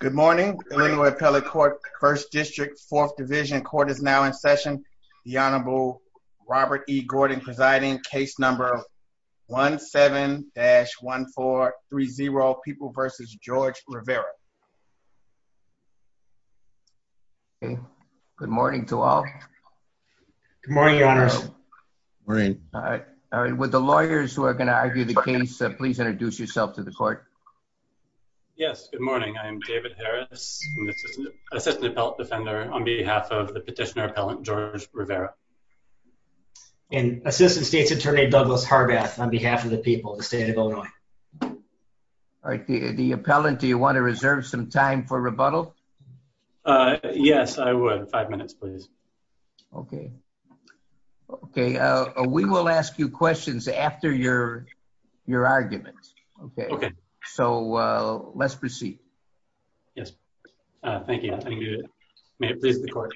Good morning, Illinois Appellate Court, 1st District, 4th Division. Court is now in session. The Honorable Robert E. Gordon presiding, case number 17-1430, People v. George Rivera. Good morning to all. Good morning, Your Honors. Would the lawyers who are going to argue the case please introduce yourself to the court. Yes, good morning. I am David Harris, Assistant Appellant Defender on behalf of the Petitioner Appellant George Rivera. And Assistant State's Attorney Douglas Harbath on behalf of the people of the State of Illinois. All right, the Appellant, do you want to reserve some time for rebuttal? Yes, I would. Five minutes, please. Okay. We will ask you questions after your argument. So, let's proceed. Yes. Thank you. May it please the court.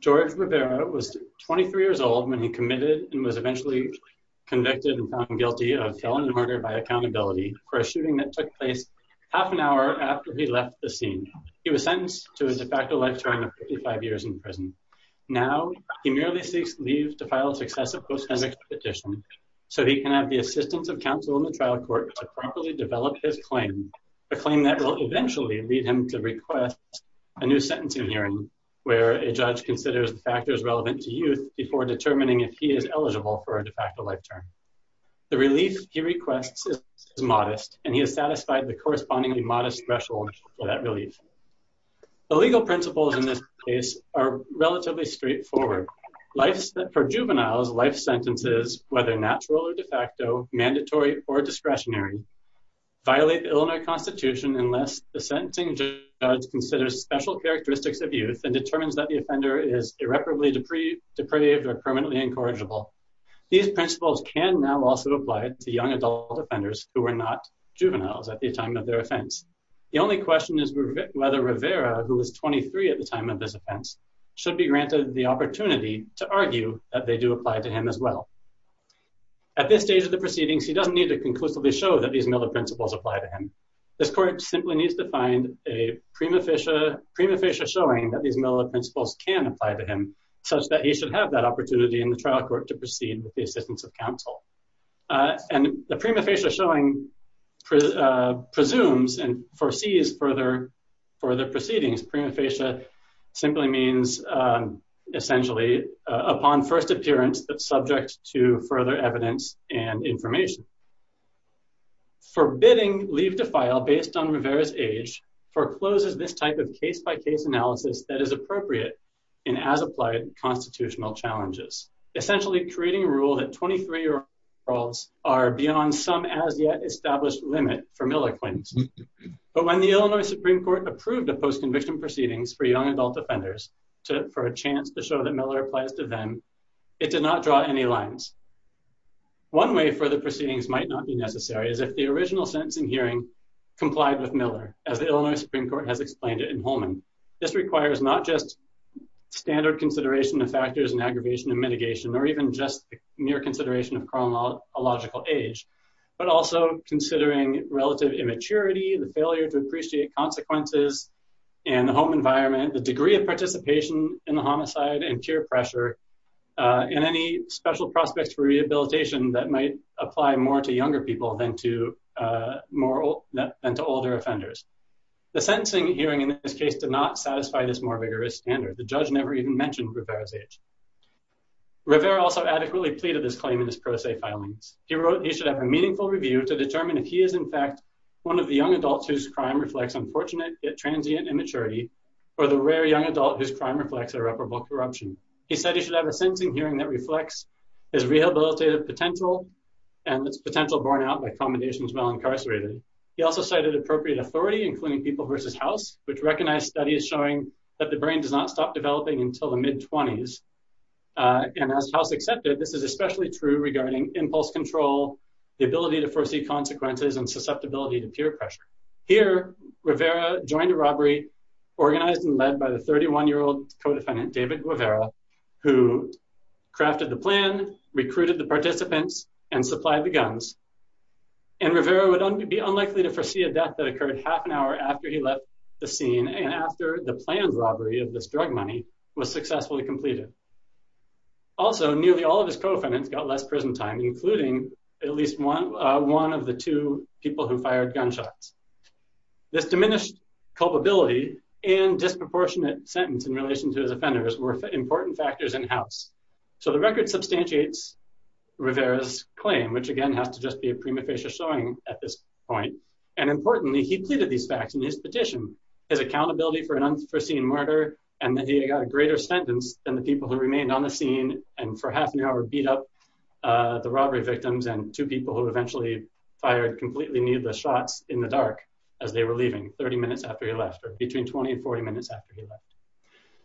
George Rivera was 23 years old when he committed and was eventually convicted and found guilty of felony murder by accountability for a shooting that took place half an hour after he left the scene. He was sentenced to his de facto life time of 55 years in prison. Now, he merely seeks leave to file a successive post-temporary petition so he can have the assistance of counsel in the trial court to properly develop his claim, a claim that will eventually lead him to request a new sentencing hearing where a judge considers the factors relevant to youth before determining if he is eligible for a de facto life term. The relief he requests is modest, and he has satisfied the correspondingly modest threshold for that relief. The legal principles in this case are relatively straightforward. For juveniles, life sentences, whether natural or de facto, mandatory or discretionary, violate the Illinois Constitution unless the sentencing judge considers special characteristics of youth and determines that the offender is irreparably depraved or permanently incorrigible. These principles can now also apply to young adult offenders who are not juveniles at the time of their offense. The only question is whether Rivera, who was 23 at the time of this offense, should be granted the opportunity to argue that they do apply to him as well. At this stage of the proceedings, he doesn't need to conclusively show that these Miller principles apply to him. This court simply needs to find a prima facie showing that these Miller principles can apply to him such that he should have that opportunity in the trial court to proceed with the assistance of counsel. And the prima facie showing presumes and foresees further proceedings. Prima facie simply means, essentially, upon first appearance that's subject to further evidence and information. Forbidding leave to file based on Rivera's age forecloses this type of case-by-case analysis that is appropriate in as-applied constitutional challenges. Essentially creating a rule that 23-year-olds are beyond some as-yet-established limit for Miller claims. But when the Illinois Supreme Court approved the post-conviction proceedings for young adult offenders for a chance to show that Miller applies to them, it did not draw any lines. One way further proceedings might not be necessary is if the original sentencing hearing complied with Miller, as the Illinois Supreme Court has explained it in Holman. This requires not just standard consideration of factors and aggravation and mitigation, or even just mere consideration of chronological age, but also considering relative immaturity, the failure to appreciate consequences, and the home environment, the degree of participation in the homicide and peer pressure, and any special prospects for rehabilitation that might apply more to younger people than to older offenders. The sentencing hearing in this case did not satisfy this more vigorous standard. The judge never even mentioned Rivera's age. Rivera also adequately pleaded his claim in his pro se filings. He wrote he should have a meaningful review to determine if he is, in fact, one of the young adults whose crime reflects unfortunate yet transient immaturity, or the rare young adult whose crime reflects irreparable corruption. He said he should have a sentencing hearing that reflects his rehabilitative potential and its potential borne out by accommodations while incarcerated. He also cited appropriate authority, including People vs. House, which recognized studies showing that the brain does not stop developing until the mid-20s. And as House accepted, this is especially true regarding impulse control, the ability to foresee consequences, and susceptibility to peer pressure. Here, Rivera joined a robbery organized and led by the 31-year-old co-defendant, David Guevara, who crafted the plan, recruited the participants, and supplied the guns. And Rivera would be unlikely to foresee a death that occurred half an hour after he left the scene and after the planned robbery of this drug money was successfully completed. Also, nearly all of his co-defendants got less prison time, including at least one of the two people who fired gunshots. This diminished culpability and disproportionate sentence in relation to his offenders were important factors in House. So the record substantiates Rivera's claim, which again has to just be a prima facie showing at this point. And importantly, he pleaded these facts in his petition. His accountability for an unforeseen murder and that he got a greater sentence than the people who remained on the scene and for half an hour beat up the robbery victims and two people who eventually fired completely needless shots in the dark as they were leaving 30 minutes after he left, or between 20 and 40 minutes after he left.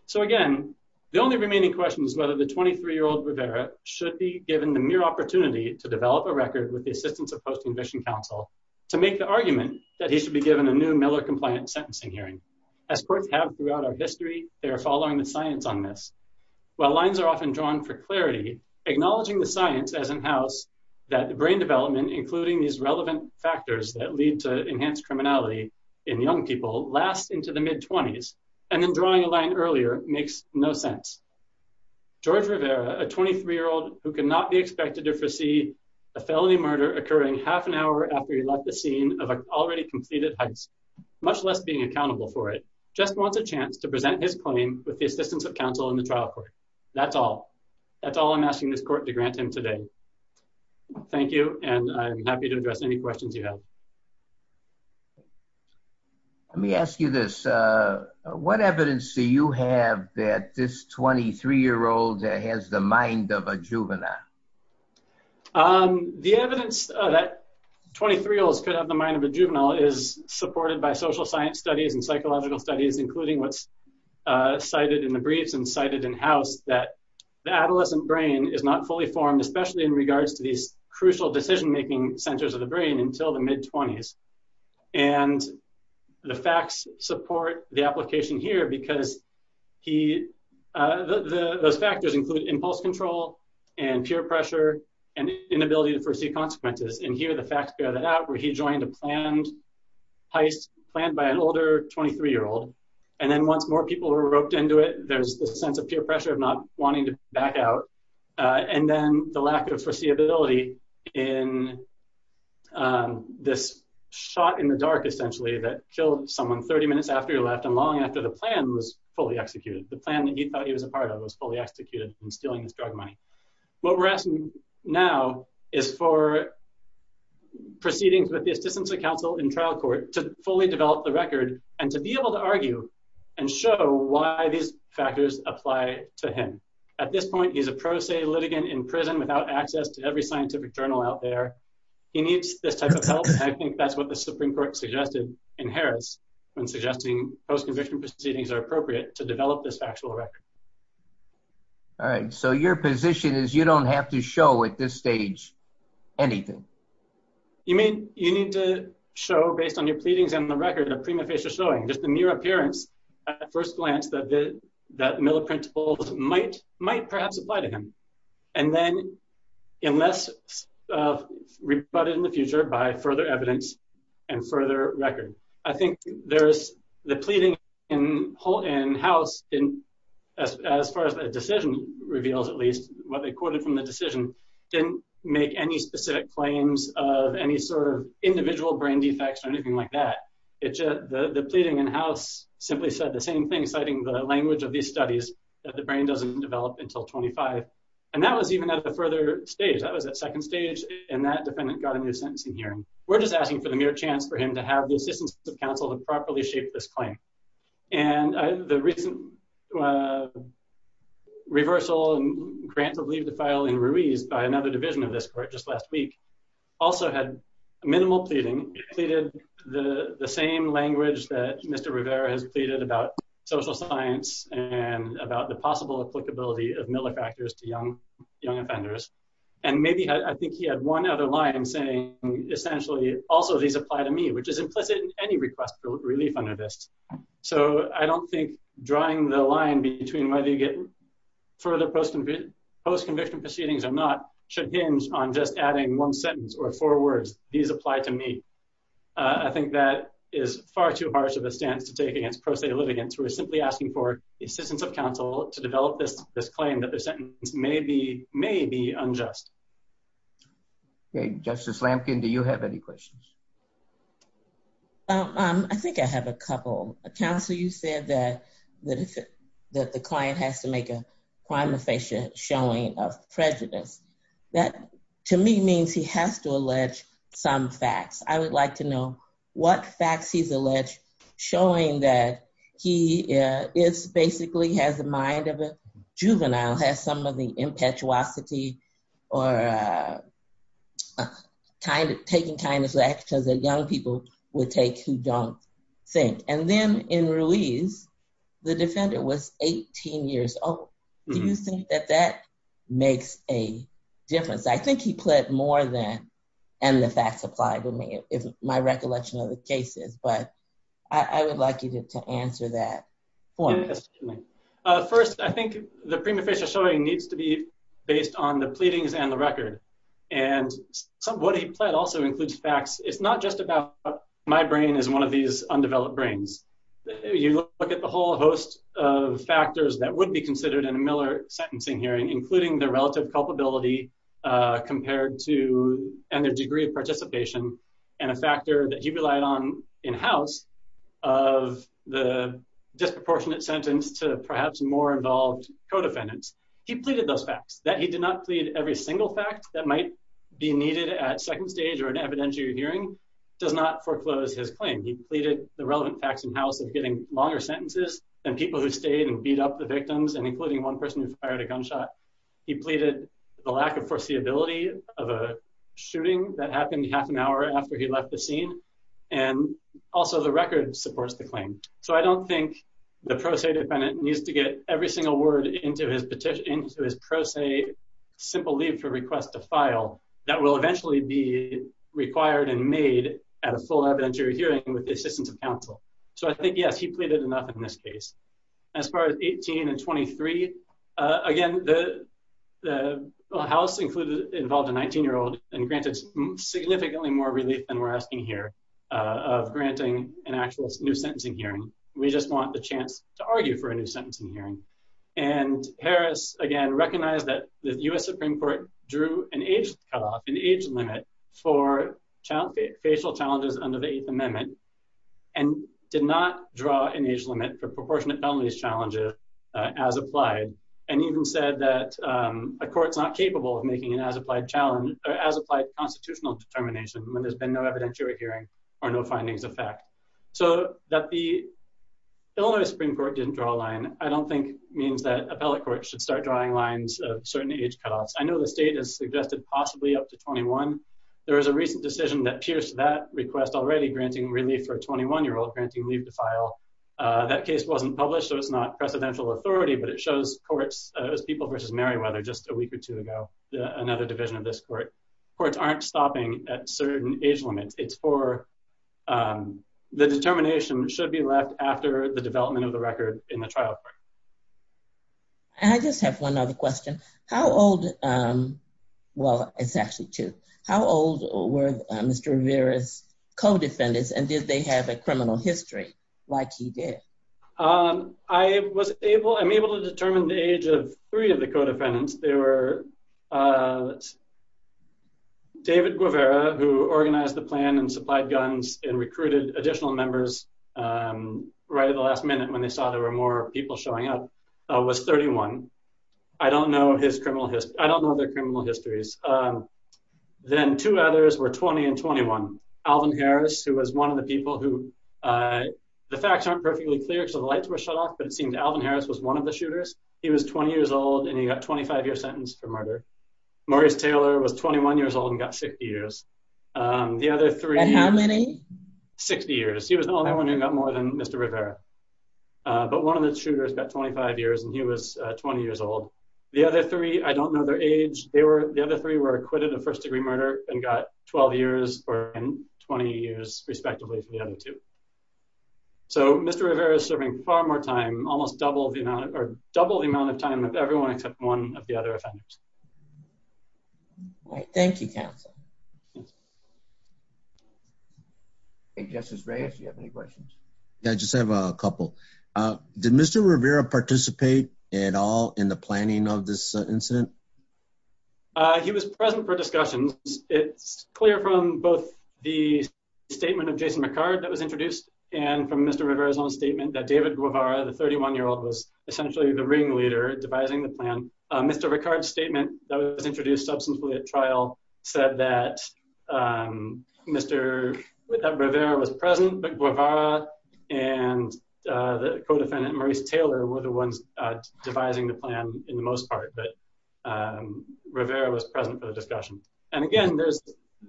So again, the only remaining question is whether the 23-year-old Rivera should be given the mere opportunity to develop a record with the assistance of Post-Conviction Council to make the argument that he should be given a new Miller-compliant sentencing hearing. As courts have throughout our history, they are following the science on this. While lines are often drawn for clarity, acknowledging the science as in House that the brain development, including these relevant factors that lead to enhanced criminality in young people, lasts into the mid-20s and then drawing a line earlier makes no sense. George Rivera, a 23-year-old who cannot be expected to foresee a felony murder occurring half an hour after he left the scene of an already completed heist, much less being accountable for it, just wants a chance to present his claim with the assistance of counsel in the trial court. That's all. That's all I'm asking this court to grant him today. Thank you, and I'm happy to address any questions you have. Let me ask you this. What evidence do you have that this 23-year-old has the mind of a juvenile? The evidence that 23-year-olds could have the mind of a juvenile is supported by social science studies and psychological studies, including what's cited in the briefs and cited in House, that the adolescent brain is not fully formed, especially in regards to these crucial decision-making centers of the brain, until the mid-20s. And the facts support the application here because those factors include impulse control and peer pressure and inability to foresee consequences. And here the facts bear that out, where he joined a planned heist, planned by an older 23-year-old, and then once more people were roped into it, there's this sense of peer pressure of not wanting to back out, and then the lack of foreseeability in this shot in the dark, essentially, that killed someone 30 minutes after he left and long after the plan was fully executed, the plan that he thought he was a part of was fully executed and stealing his drug money. What we're asking now is for proceedings with the Assistance of Counsel in trial court to fully develop the record and to be able to argue and show why these factors apply to him. At this point, he's a pro se litigant in prison without access to every scientific journal out there. He needs this type of help, and I think that's what the Supreme Court suggested in Harris when suggesting post-conviction proceedings are appropriate to develop this factual record. All right, so your position is you don't have to show at this stage anything? You need to show, based on your pleadings and the record of prima facie showing, just the mere appearance at first glance that Miller principles might perhaps apply to him. Unless rebutted in the future by further evidence and further record. I think there's the pleading in House, as far as the decision reveals at least, what they quoted from the decision didn't make any specific claims of any sort of individual brain defects or anything like that. The pleading in House simply said the same thing, citing the language of these studies that the brain doesn't develop until 25. And that was even at the further stage, that was at second stage, and that defendant got a new sentencing hearing. We're just asking for the mere chance for him to have the assistance of counsel to properly shape this claim. And the recent reversal and grant of leave to file in Ruiz by another division of this court just last week also had minimal pleading. It pleaded the same language that Mr. Rivera has pleaded about social science and about the possible applicability of Miller factors to young offenders. And maybe I think he had one other line saying, essentially, also these apply to me, which is implicit in any request for relief under this. So I don't think drawing the line between whether you get further post-conviction proceedings or not should hinge on just adding one sentence or four words, these apply to me. I think that is far too harsh of a stance to take against pro se litigants. We're simply asking for the assistance of counsel to develop this claim that the sentence may be unjust. Justice Lampkin, do you have any questions? I think I have a couple. Counsel, you said that the client has to make a prima facie showing of prejudice. That, to me, means he has to allege some facts. I would like to know what facts he's alleged, showing that he basically has the mind of a juvenile, has some of the impetuosity or taking kind of actions that young people would take who don't think. And then in release, the defendant was 18 years old. Do you think that that makes a difference? I think he pled more than, and the facts apply to me, if my recollection of the case is. But I would like you to answer that for me. First, I think the prima facie showing needs to be based on the pleadings and the record. And what he pled also includes facts. It's not just about my brain is one of these undeveloped brains. You look at the whole host of factors that would be considered in a Miller sentencing hearing, including the relative culpability compared to, and the degree of participation, and a factor that he relied on in-house of the disproportionate sentence to perhaps more involved co-defendants. He pleaded those facts, that he did not plead every single fact that might be needed at second stage or an evidentiary hearing does not foreclose his claim. He pleaded the relevant facts in-house of getting longer sentences and people who stayed and beat up the victims and including one person who fired a gunshot. He pleaded the lack of foreseeability of a shooting that happened half an hour after he left the scene. And also the record supports the claim. So I don't think the pro se defendant needs to get every single word into his pro se simple leave for request to file that will eventually be required and made at a full evidentiary hearing with the assistance of counsel. So I think, yes, he pleaded enough in this case. As far as 18 and 23, again, the House included involved a 19-year-old and granted significantly more relief than we're asking here of granting an actual new sentencing hearing. We just want the chance to argue for a new sentencing hearing. And Harris, again, recognized that the U.S. Supreme Court drew an age limit for facial challenges under the Eighth Amendment and did not draw an age limit for proportionate felonies challenges as applied. And even said that a court's not capable of making an as-applied constitutional determination when there's been no evidentiary hearing or no findings of fact. So that the Illinois Supreme Court didn't draw a line, I don't think means that appellate courts should start drawing lines of certain age cutoffs. I know the state has suggested possibly up to 21. There was a recent decision that pierced that request already, granting relief for a 21-year-old granting leave to file. That case wasn't published, so it's not precedential authority, but it shows courts, as People v. Merriweather just a week or two ago, another division of this court, courts aren't stopping at certain age limits. It's for the determination should be left after the development of the record in the trial. I just have one other question. How old, well, it's actually two. How old were Mr. Rivera's co-defendants and did they have a criminal history like he did? I was able, I'm able to determine the age of three of the co-defendants. They were David Guevara, who organized the plan and supplied guns and recruited additional members right at the last minute when they saw there were more people showing up, was 31. I don't know his criminal history, I don't know their criminal histories. Then two others were 20 and 21. Alvin Harris, who was one of the people who, the facts aren't perfectly clear because the lights were shut off, but it seemed Alvin Harris was one of the shooters. He was 20 years old and he got a 25 year sentence for murder. Maurice Taylor was 21 years old and got 60 years. The other three... And how many? 60 years. He was the only one who got more than Mr. Rivera. But one of the shooters got 25 years and he was 20 years old. The other three, I don't know their age. They were, the other three were acquitted of first degree murder and got 12 years and 20 years respectively for the other two. So, Mr. Rivera is serving far more time, almost double the amount, or double the amount of time of everyone except one of the other offenders. Thank you, counsel. Justice Reyes, do you have any questions? Yeah, I just have a couple. Did Mr. Rivera participate at all in the planning of this incident? He was present for discussions. It's clear from both the statement of Jason Ricard that was introduced and from Mr. Rivera's own statement that David Guevara, the 31-year-old, was essentially the ringleader devising the plan. Mr. Ricard's statement that was introduced substantively at trial said that Mr. Rivera was present, but Guevara and the co-defendant, Maurice Taylor, were the ones devising the plan in the most part, but Rivera was present for the discussion. And again, there's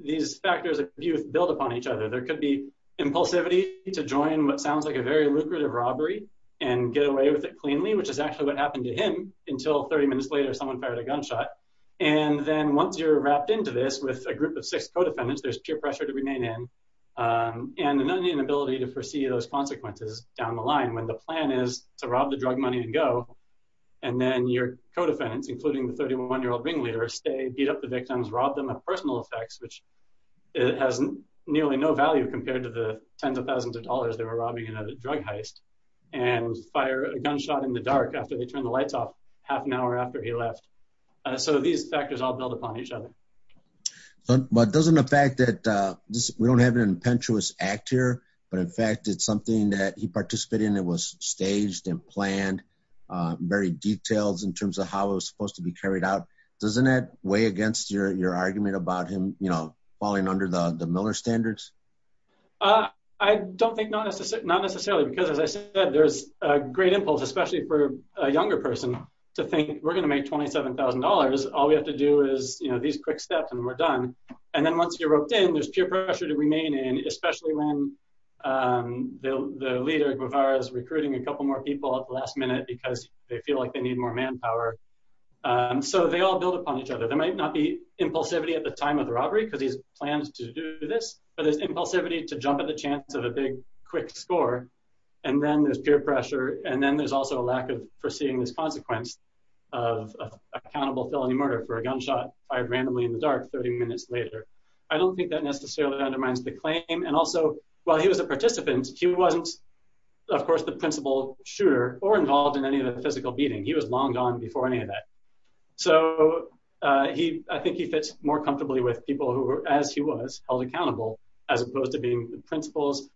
these factors of abuse build upon each other. There could be impulsivity to join what sounds like a very lucrative robbery and get away with it cleanly, which is actually what happened to him until 30 minutes later someone fired a gunshot. And then once you're wrapped into this with a group of six co-defendants, there's peer pressure to remain in and an inability to foresee those consequences down the line when the plan is to rob the drug money and go. And then your co-defendants, including the 31-year-old ringleader, stay, beat up the victims, rob them of personal effects, which has nearly no value compared to the tens of thousands of dollars they were robbing in a drug heist, and fire a gunshot in the dark after they turned the lights off half an hour after he left. So these factors all build upon each other. But doesn't the fact that we don't have an impetuous act here, but in fact, it's something that he participated in, it was staged and planned, very detailed in terms of how it was supposed to be carried out. Doesn't that weigh against your argument about him, you know, falling under the Miller standards? I don't think not necessarily, because as I said, there's a great impulse, especially for a younger person to think we're going to make $27,000. All we have to do is, you know, these quick steps and we're done. And then once you're roped in, there's peer pressure to remain in, especially when the leader of Guevara is recruiting a couple more people at the last minute because they feel like they need more manpower. So they all build upon each other. There might not be impulsivity at the time of the robbery because he's planned to do this, but there's impulsivity to jump at the chance of a big quick score. And then there's peer pressure. And then there's also a lack of foreseeing this consequence of accountable felony murder for a gunshot fired randomly in the dark 30 minutes later. I don't think that necessarily undermines the claim. And also, while he was a participant, he wasn't, of course, the principal shooter or involved in any of the physical beating. He was long gone before any of that. So I think he fits more comfortably with people who were, as he was, held accountable, as opposed to being the principals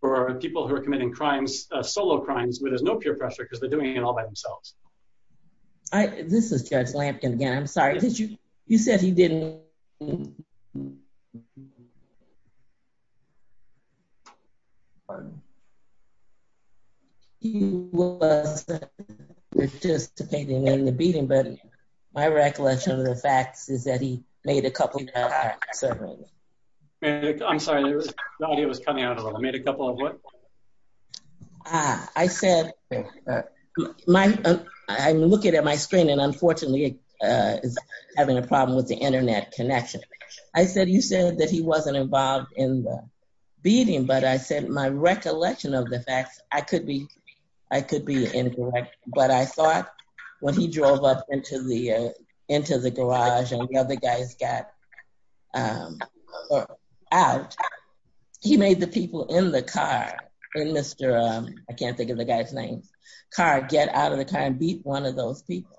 for people who are committing crimes, solo crimes, where there's no peer pressure because they're doing it all by themselves. This is Judge Lampton again. I'm sorry. You said he didn't... He wasn't participating in the beating, but my recollection of the facts is that he made a couple of... I'm sorry. The idea was coming out a little. Made a couple of what? I said... I'm looking at my screen and unfortunately is having a problem with the internet connection. I said, you said that he wasn't involved in the beating, but I said my recollection of the facts, I could be, I could be incorrect. But I thought when he drove up into the garage and the other guys got out, he made the people in the car, in Mr., I can't think of the guy's name, car, get out of the car and beat one of those people.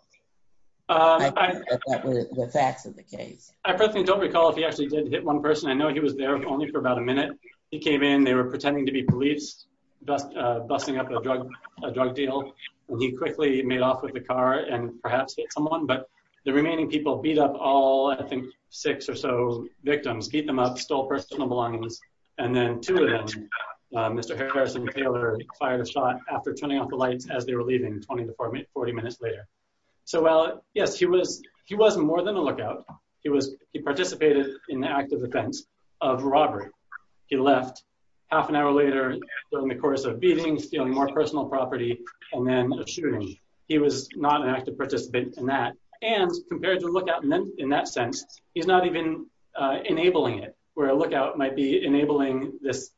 I think that that was the facts of the case. I personally don't recall if he actually did hit one person. I know he was there only for about a minute. He came in, they were pretending to be police, busting up a drug deal. And he quickly made off with the car and perhaps hit someone, but the remaining people beat up all, I think, six or so victims, beat them up, stole personal belongings. And then two of them, Mr. Harrison Taylor, fired a shot after turning off the lights as they were leaving 20 to 40 minutes later. So, well, yes, he was, he was more than a lookout. He was, he participated in the act of offense of robbery. He left half an hour later in the course of beating, stealing more personal property, and then shooting. He was not an active participant in that. And compared to lookout in that sense, he's not even enabling it, where a lookout might be enabling this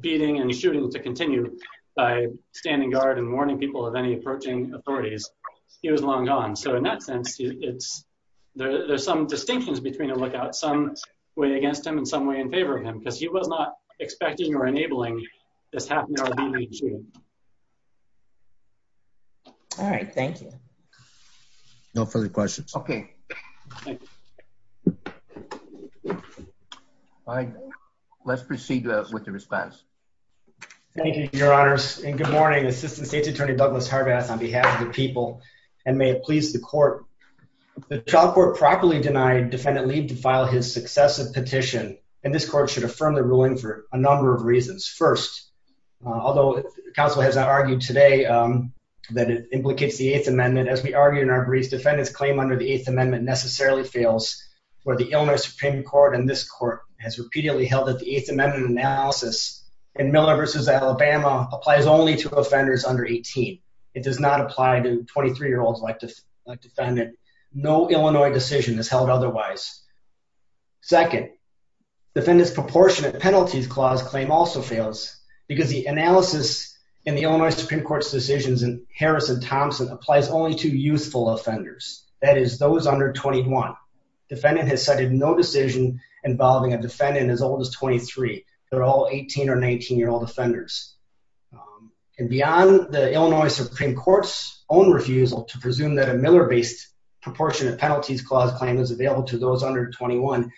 beating and shooting to continue by standing guard and warning people of any approaching authorities. He was long gone. So in that sense, it's, there's some distinctions between a lookout, some way against him and some way in favor of him because he was not expecting or enabling this half an hour beating and shooting. All right. Thank you. No further questions. Okay. Let's proceed with the response. Thank you, Your Honors, and good morning, Assistant State's Attorney Douglas Harbath on behalf of the people, and may it please the court. The trial court properly denied Defendant Leib to file his successive petition, and this court should affirm the ruling for a number of reasons. First, although counsel has argued today that it implicates the Eighth Amendment, as we argued in our briefs, Defendant's claim under the Eighth Amendment necessarily fails for the Illinois Supreme Court. And this court has repeatedly held that the Eighth Amendment analysis in Miller v. Alabama applies only to offenders under 18. It does not apply to 23-year-olds like Defendant. No Illinois decision is held otherwise. Second, Defendant's proportionate penalties clause claim also fails because the analysis in the Illinois Supreme Court's decisions in Harris and Thompson applies only to youthful offenders. That is, those under 21. Defendant has cited no decision involving a defendant as old as 23. They're all 18 or 19-year-old offenders. And beyond the Illinois Supreme Court's own refusal to presume that a Miller-based proportionate penalties clause claim is available to those under 21,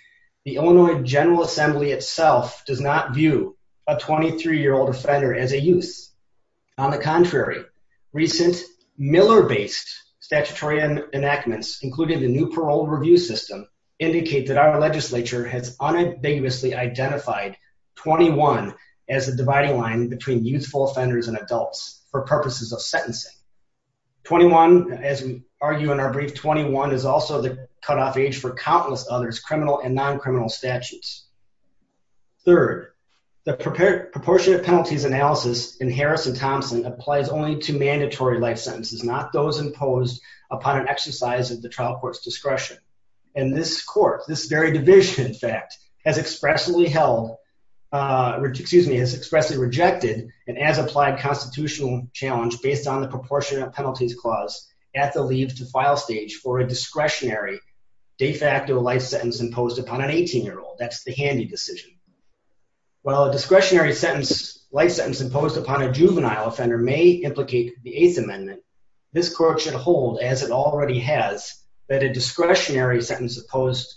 the Illinois General Assembly itself does not view a 23-year-old offender as a youth. On the contrary, recent Miller-based statutory enactments, including the new parole review system, indicate that our legislature has unambiguously identified 21 as the dividing line between youthful offenders and adults for purposes of sentencing. 21, as we argue in our brief, 21 is also the cutoff age for countless others' criminal and non-criminal statutes. Third, the proportionate penalties analysis in Harris and Thompson applies only to mandatory life sentences, not those imposed upon an exercise of the trial court's discretion. And this court, this very division, in fact, has expressly held, excuse me, has expressly rejected an as-applied constitutional challenge based on the proportionate penalties clause at the leave-to-file stage for a discretionary de facto life sentence imposed upon an 18-year-old. That's the handy decision. While a discretionary sentence, life sentence imposed upon a juvenile offender may implicate the Eighth Amendment, this court should hold, as it already has, that a discretionary sentence imposed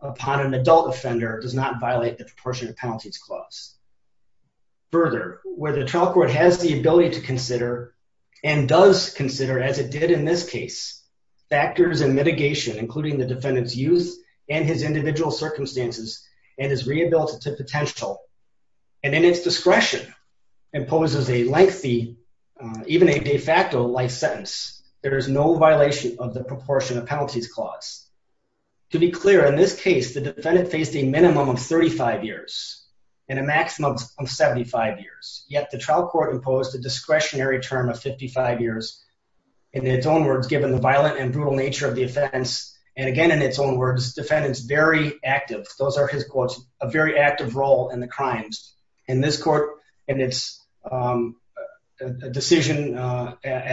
upon an adult offender does not violate the proportionate penalties clause. Further, where the trial court has the ability to consider and does consider, as it did in this case, factors and mitigation, including the defendant's youth and his individual circumstances and his rehabilitative potential, and in its discretion, imposes a lengthy, even a de facto life sentence, there is no violation of the proportionate penalties clause. To be clear, in this case, the defendant faced a minimum of 35 years and a maximum of 75 years, yet the trial court imposed a discretionary term of 55 years, in its own words, given the violent and brutal nature of the offense, and again, in its own words, defendant's very active, those are his quotes, a very active role in the crimes. And this court, in its decision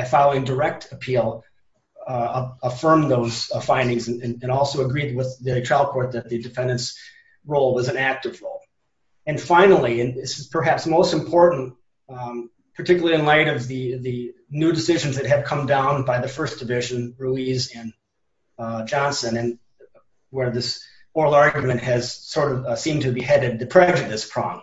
following direct appeal, affirmed those findings and also agreed with the trial court that the defendant's role was an active role. And finally, and this is perhaps most important, particularly in light of the new decisions that have come down by the First Division, Ruiz and Johnson, and where this oral argument has sort of seemed to be headed the prejudice prong.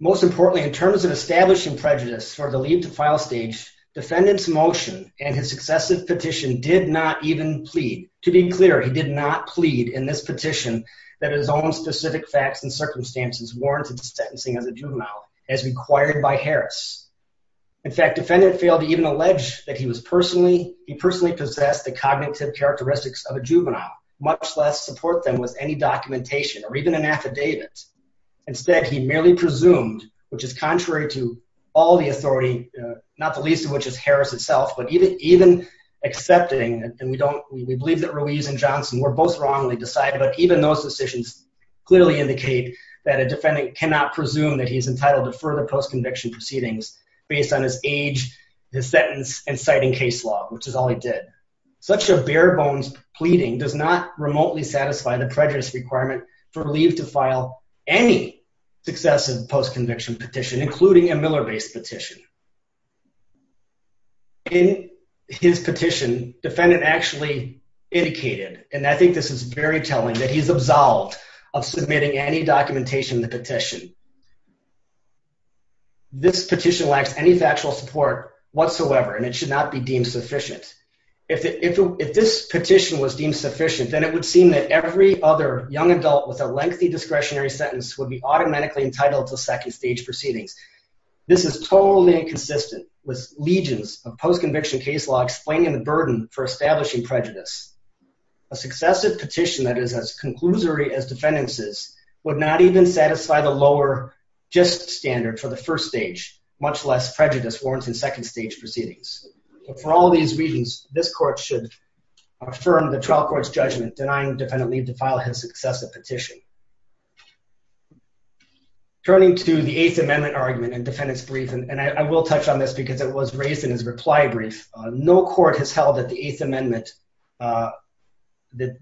Most importantly, in terms of establishing prejudice for the leave to file stage, defendant's motion and his successive petition did not even plead. To be clear, he did not plead in this petition that his own specific facts and circumstances warranted sentencing as a juvenile, as required by Harris. In fact, defendant failed to even allege that he personally possessed the cognitive characteristics of a juvenile, much less support them with any documentation or even an affidavit. Instead, he merely presumed, which is contrary to all the authority, not the least of which is Harris itself, but even accepting, and we believe that Ruiz and Johnson were both wrongly decided, but even those decisions clearly indicate that a defendant cannot presume that he's entitled to further post-conviction proceedings based on his age, his sentence, and citing case law, which is all he did. Such a bare-bones pleading does not remotely satisfy the prejudice requirement for leave to file any successive post-conviction petition, including a Miller-based petition. In his petition, defendant actually indicated, and I think this is very telling, that he's absolved of submitting any documentation in the petition. This petition lacks any factual support whatsoever, and it should not be deemed sufficient. If this petition was deemed sufficient, then it would seem that every other young adult with a lengthy discretionary sentence would be automatically entitled to second stage proceedings. This is totally inconsistent with legions of post-conviction case law explaining the burden for establishing prejudice. A successive petition that is as conclusory as defendants' is would not even satisfy the lower just standard for the first stage, much less prejudice warrants in second stage proceedings. For all these reasons, this court should affirm the trial court's judgment denying defendant leave to file his successive petition. Turning to the Eighth Amendment argument in defendant's brief, and I will touch on this because it was raised in his reply brief. No court has held that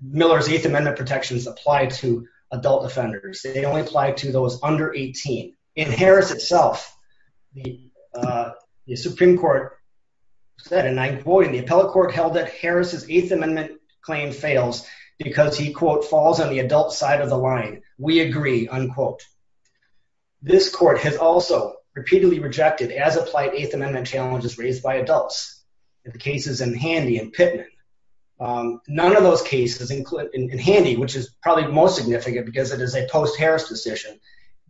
Miller's Eighth Amendment protections apply to adult offenders. They only apply to those under 18. In Harris itself, the Supreme Court said, and I quote, in the appellate court held that Harris' Eighth Amendment claim fails because he, quote, falls on the adult side of the line. We agree, unquote. This court has also repeatedly rejected as-applied Eighth Amendment challenges raised by adults. The cases in Handy and Pittman. None of those cases in Handy, which is probably most significant because it is a post-Harris decision,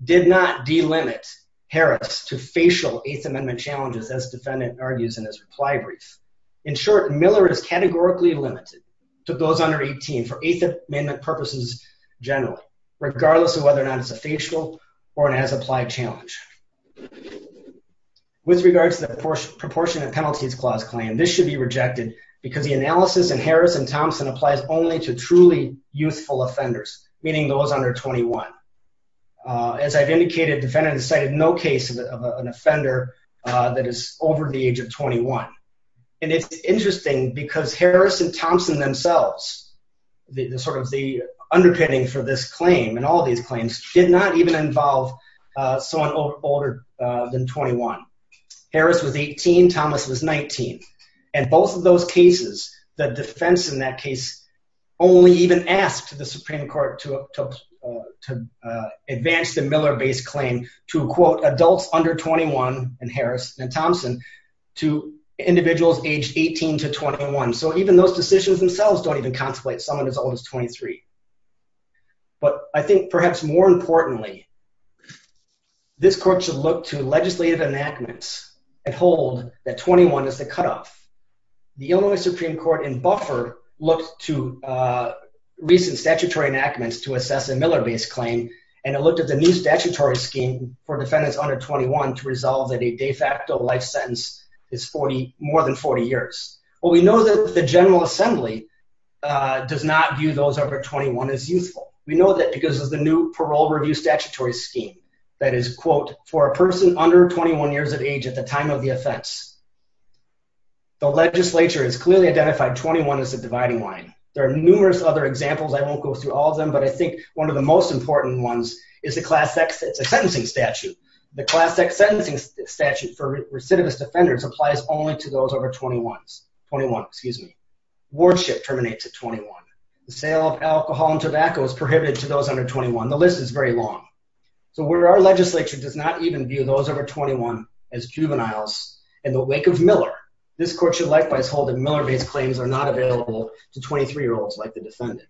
did not delimit Harris to facial Eighth Amendment challenges as defendant argues in his reply brief. In short, Miller is categorically limited to those under 18 for Eighth Amendment purposes generally, regardless of whether or not it's a facial or an as-applied challenge. With regards to the Proportionate Penalties Clause claim, this should be rejected because the analysis in Harris and Thompson applies only to truly youthful offenders, meaning those under 21. As I've indicated, defendant has cited no case of an offender that is over the age of 21. And it's interesting because Harris and Thompson themselves, the sort of the underpinning for this claim and all these claims, did not even involve someone older than 21. Harris was 18, Thomas was 19. And both of those cases, the defense in that case only even asked the Supreme Court to advance the Miller-based claim to, quote, adults under 21 in Harris and Thompson to individuals aged 18 to 21. So even those decisions themselves don't even contemplate someone as old as 23. But I think perhaps more importantly, this court should look to legislative enactments and hold that 21 is the cutoff. The Illinois Supreme Court in Buffer looked to recent statutory enactments to assess a Miller-based claim, and it looked at the new statutory scheme for defendants under 21 to resolve that a de facto life sentence is more than 40 years. Well, we know that the General Assembly does not view those over 21 as youthful. We know that because of the new parole review statutory scheme that is, quote, for a person under 21 years of age at the time of the offense. The legislature has clearly identified 21 as a dividing line. There are numerous other examples, I won't go through all of them, but I think one of the most important ones is the Class X sentencing statute. The Class X sentencing statute for recidivist offenders applies only to those over 21. Wardship terminates at 21. The sale of alcohol and tobacco is prohibited to those under 21. The list is very long. So where our legislature does not even view those over 21 as juveniles in the wake of Miller, this court should likewise hold that Miller-based claims are not available to 23-year-olds like the defendant.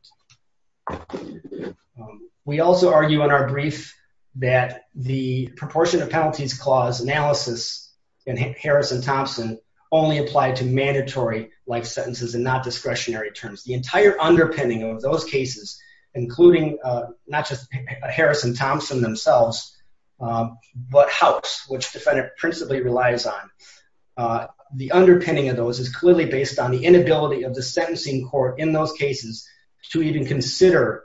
We also argue in our brief that the proportion of penalties clause analysis in Harrison-Thompson only applied to mandatory life sentences and not discretionary terms. The entire underpinning of those cases, including not just Harrison-Thompson themselves, but House, which the defendant principally relies on, the underpinning of those is clearly based on the inability of the sentencing court in those cases to even consider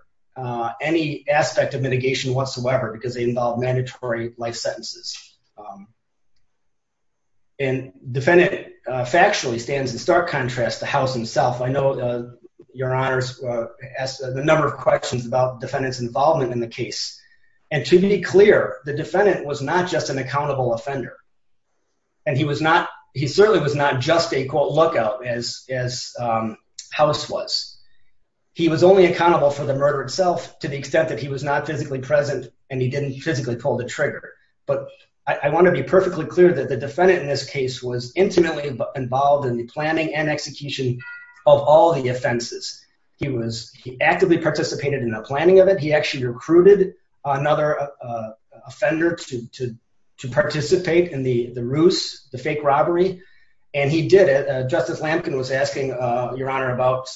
any aspect of mitigation whatsoever because they involve mandatory life sentences. And the defendant factually stands in stark contrast to House himself. I know your honors asked a number of questions about the defendant's involvement in the case. And to be clear, the defendant was not just an accountable offender. And he certainly was not just a, quote, lookout as House was. He was only accountable for the murder itself to the extent that he was not physically present and he didn't physically pull the trigger. But I want to be perfectly clear that the defendant in this case was intimately involved in the planning and execution of all the offenses. He actively participated in the planning of it. He actually recruited another offender to participate in the ruse, the fake robbery. And he did it. Justice Lamkin was asking your honor about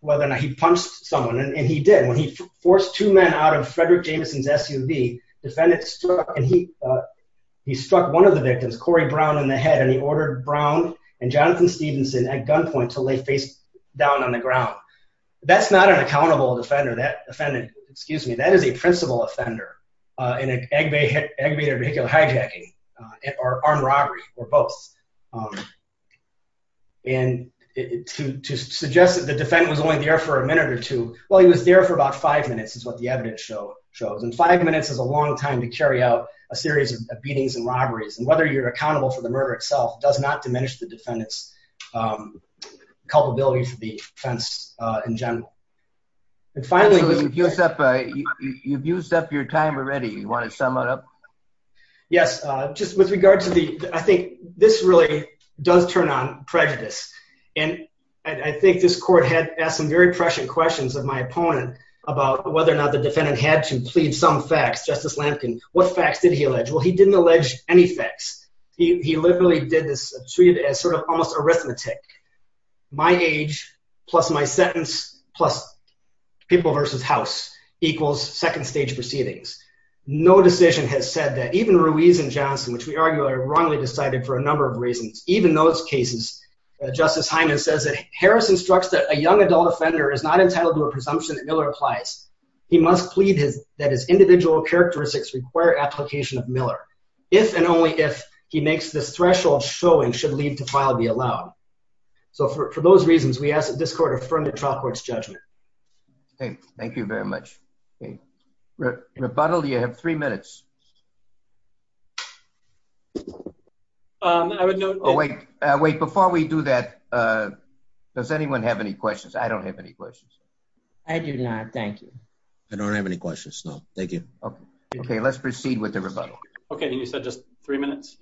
whether or not he punched someone. And he did. When he forced two men out of Frederick Jameson's SUV, the defendant struck and he struck one of the victims, Corey Brown, in the head. And he ordered Brown and Jonathan Stevenson at gunpoint to lay face down on the ground. That's not an accountable offender. That defendant, excuse me, that is a principal offender in an aggravated vehicular hijacking or armed robbery or both. And to suggest that the defendant was only there for a minute or two. Well, he was there for about five minutes is what the evidence shows. And five minutes is a long time to carry out a series of beatings and robberies. And whether you're accountable for the murder itself does not diminish the defendant's culpability for the offense in general. And finally, you've used up your time already. You want to sum it up? Yes. Just with regard to the, I think this really does turn on prejudice. And I think this court had asked some very prescient questions of my opponent about whether or not the defendant had to plead some facts. Justice Lampkin, what facts did he allege? Well, he didn't allege any facts. He literally did this treated as sort of almost arithmetic. My age plus my sentence plus people versus house equals second stage proceedings. No decision has said that even Ruiz and Johnson, which we arguably wrongly decided for a number of reasons. Even those cases, Justice Hyman says that Harris instructs that a young adult offender is not entitled to a presumption that Miller applies. He must plead that his individual characteristics require application of Miller. If and only if he makes this threshold show and should leave to file be allowed. So for those reasons, we ask that this court affirm the trial court's judgment. Thank you very much. Rebuttal, you have three minutes. I would know. Oh, wait, wait. Before we do that, does anyone have any questions? I don't have any questions. I do not. Thank you. I don't have any questions. No. Thank you. OK, let's proceed with everybody. OK. And you said just three minutes.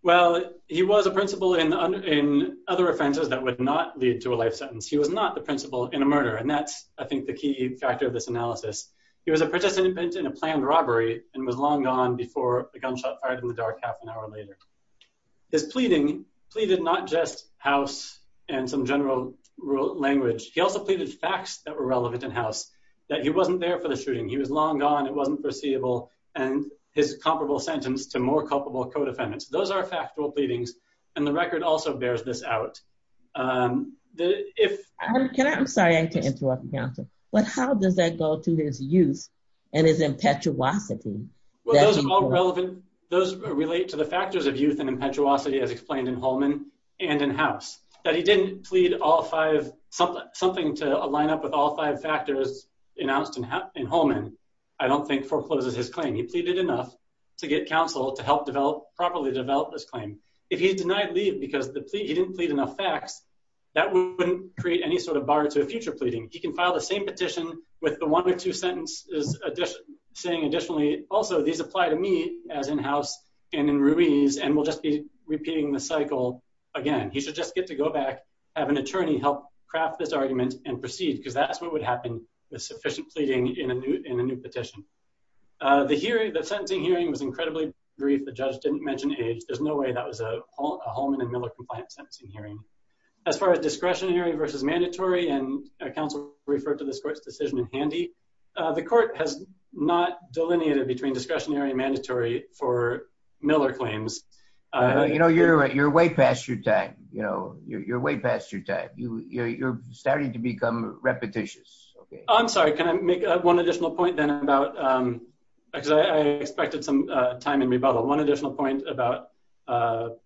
Well, he was a principal in other offenses that would not lead to a life sentence. He was not the principal in a murder. And that's, I think, the key factor of this analysis. He was a participant in a planned robbery and was long gone before the gunshot fired in the dark half an hour later. His pleading pleaded not just house and some general language. He also pleaded facts that were relevant in house that he wasn't there for the shooting. He was long gone. It wasn't foreseeable. And his comparable sentence to more culpable co-defendants. Those are factual pleadings. And the record also bears this out. If I can, I'm sorry, I can interrupt you. But how does that go to his youth and his impetuosity? Well, those are all relevant. Those relate to the factors of youth and impetuosity, as explained in Holman and in house. That he didn't plead all five, something to line up with all five factors announced in Holman, I don't think forecloses his claim. He pleaded enough to get counsel to help develop, properly develop this claim. If he's denied leave because he didn't plead enough facts, that wouldn't create any sort of bar to a future pleading. He can file the same petition with the one or two sentences saying additionally, also these apply to me as in house and in Ruiz, and we'll just be repeating the cycle again. He should just get to go back, have an attorney help craft this argument and proceed, because that's what would happen with sufficient pleading in a new petition. The sentencing hearing was incredibly brief. The judge didn't mention age. There's no way that was a Holman and Miller compliant sentencing hearing. As far as discretionary versus mandatory and counsel referred to this court's decision in handy, the court has not delineated between discretionary and mandatory for Miller claims. You know, you're way past your time. You know, you're way past your time. You're starting to become repetitious. I'm sorry. Can I make one additional point then about, because I expected some time in rebuttal. One additional point about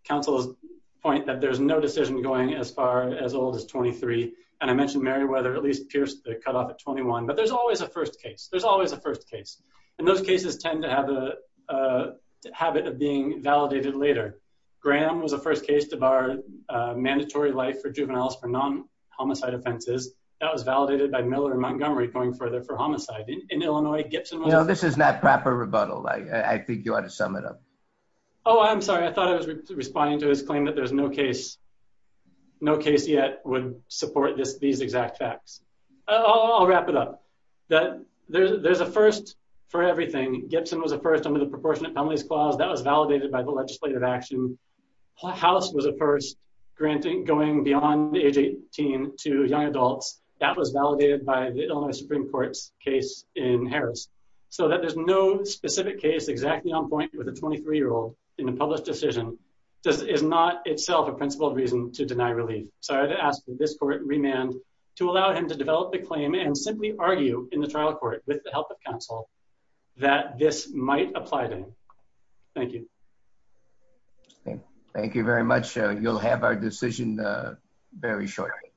counsel's point that there's no decision going as far as old as 23. And I mentioned Meriwether at least pierced the cutoff at 21. But there's always a first case. There's always a first case. And those cases tend to have a habit of being validated later. Graham was the first case to bar mandatory life for juveniles for non homicide offenses. That was validated by Miller and Montgomery going further for homicide in Illinois. You know, this is not proper rebuttal. I think you ought to sum it up. Oh, I'm sorry. I thought I was responding to his claim that there's no case. No case yet would support this. These exact facts. I'll wrap it up that there's a first for everything. Gibson was a first under the proportionate penalties clause that was validated by the legislative action. House was a first granting going beyond the age 18 to young adults. That was validated by the Illinois Supreme Court's case in Harris. So that there's no specific case exactly on point with a 23 year old in a published decision. This is not itself a principled reason to deny relief. So I'd ask this court remand to allow him to develop the claim and simply argue in the trial court with the help of counsel that this might apply to him. Thank you. Thank you very much. You'll have our decision very shortly.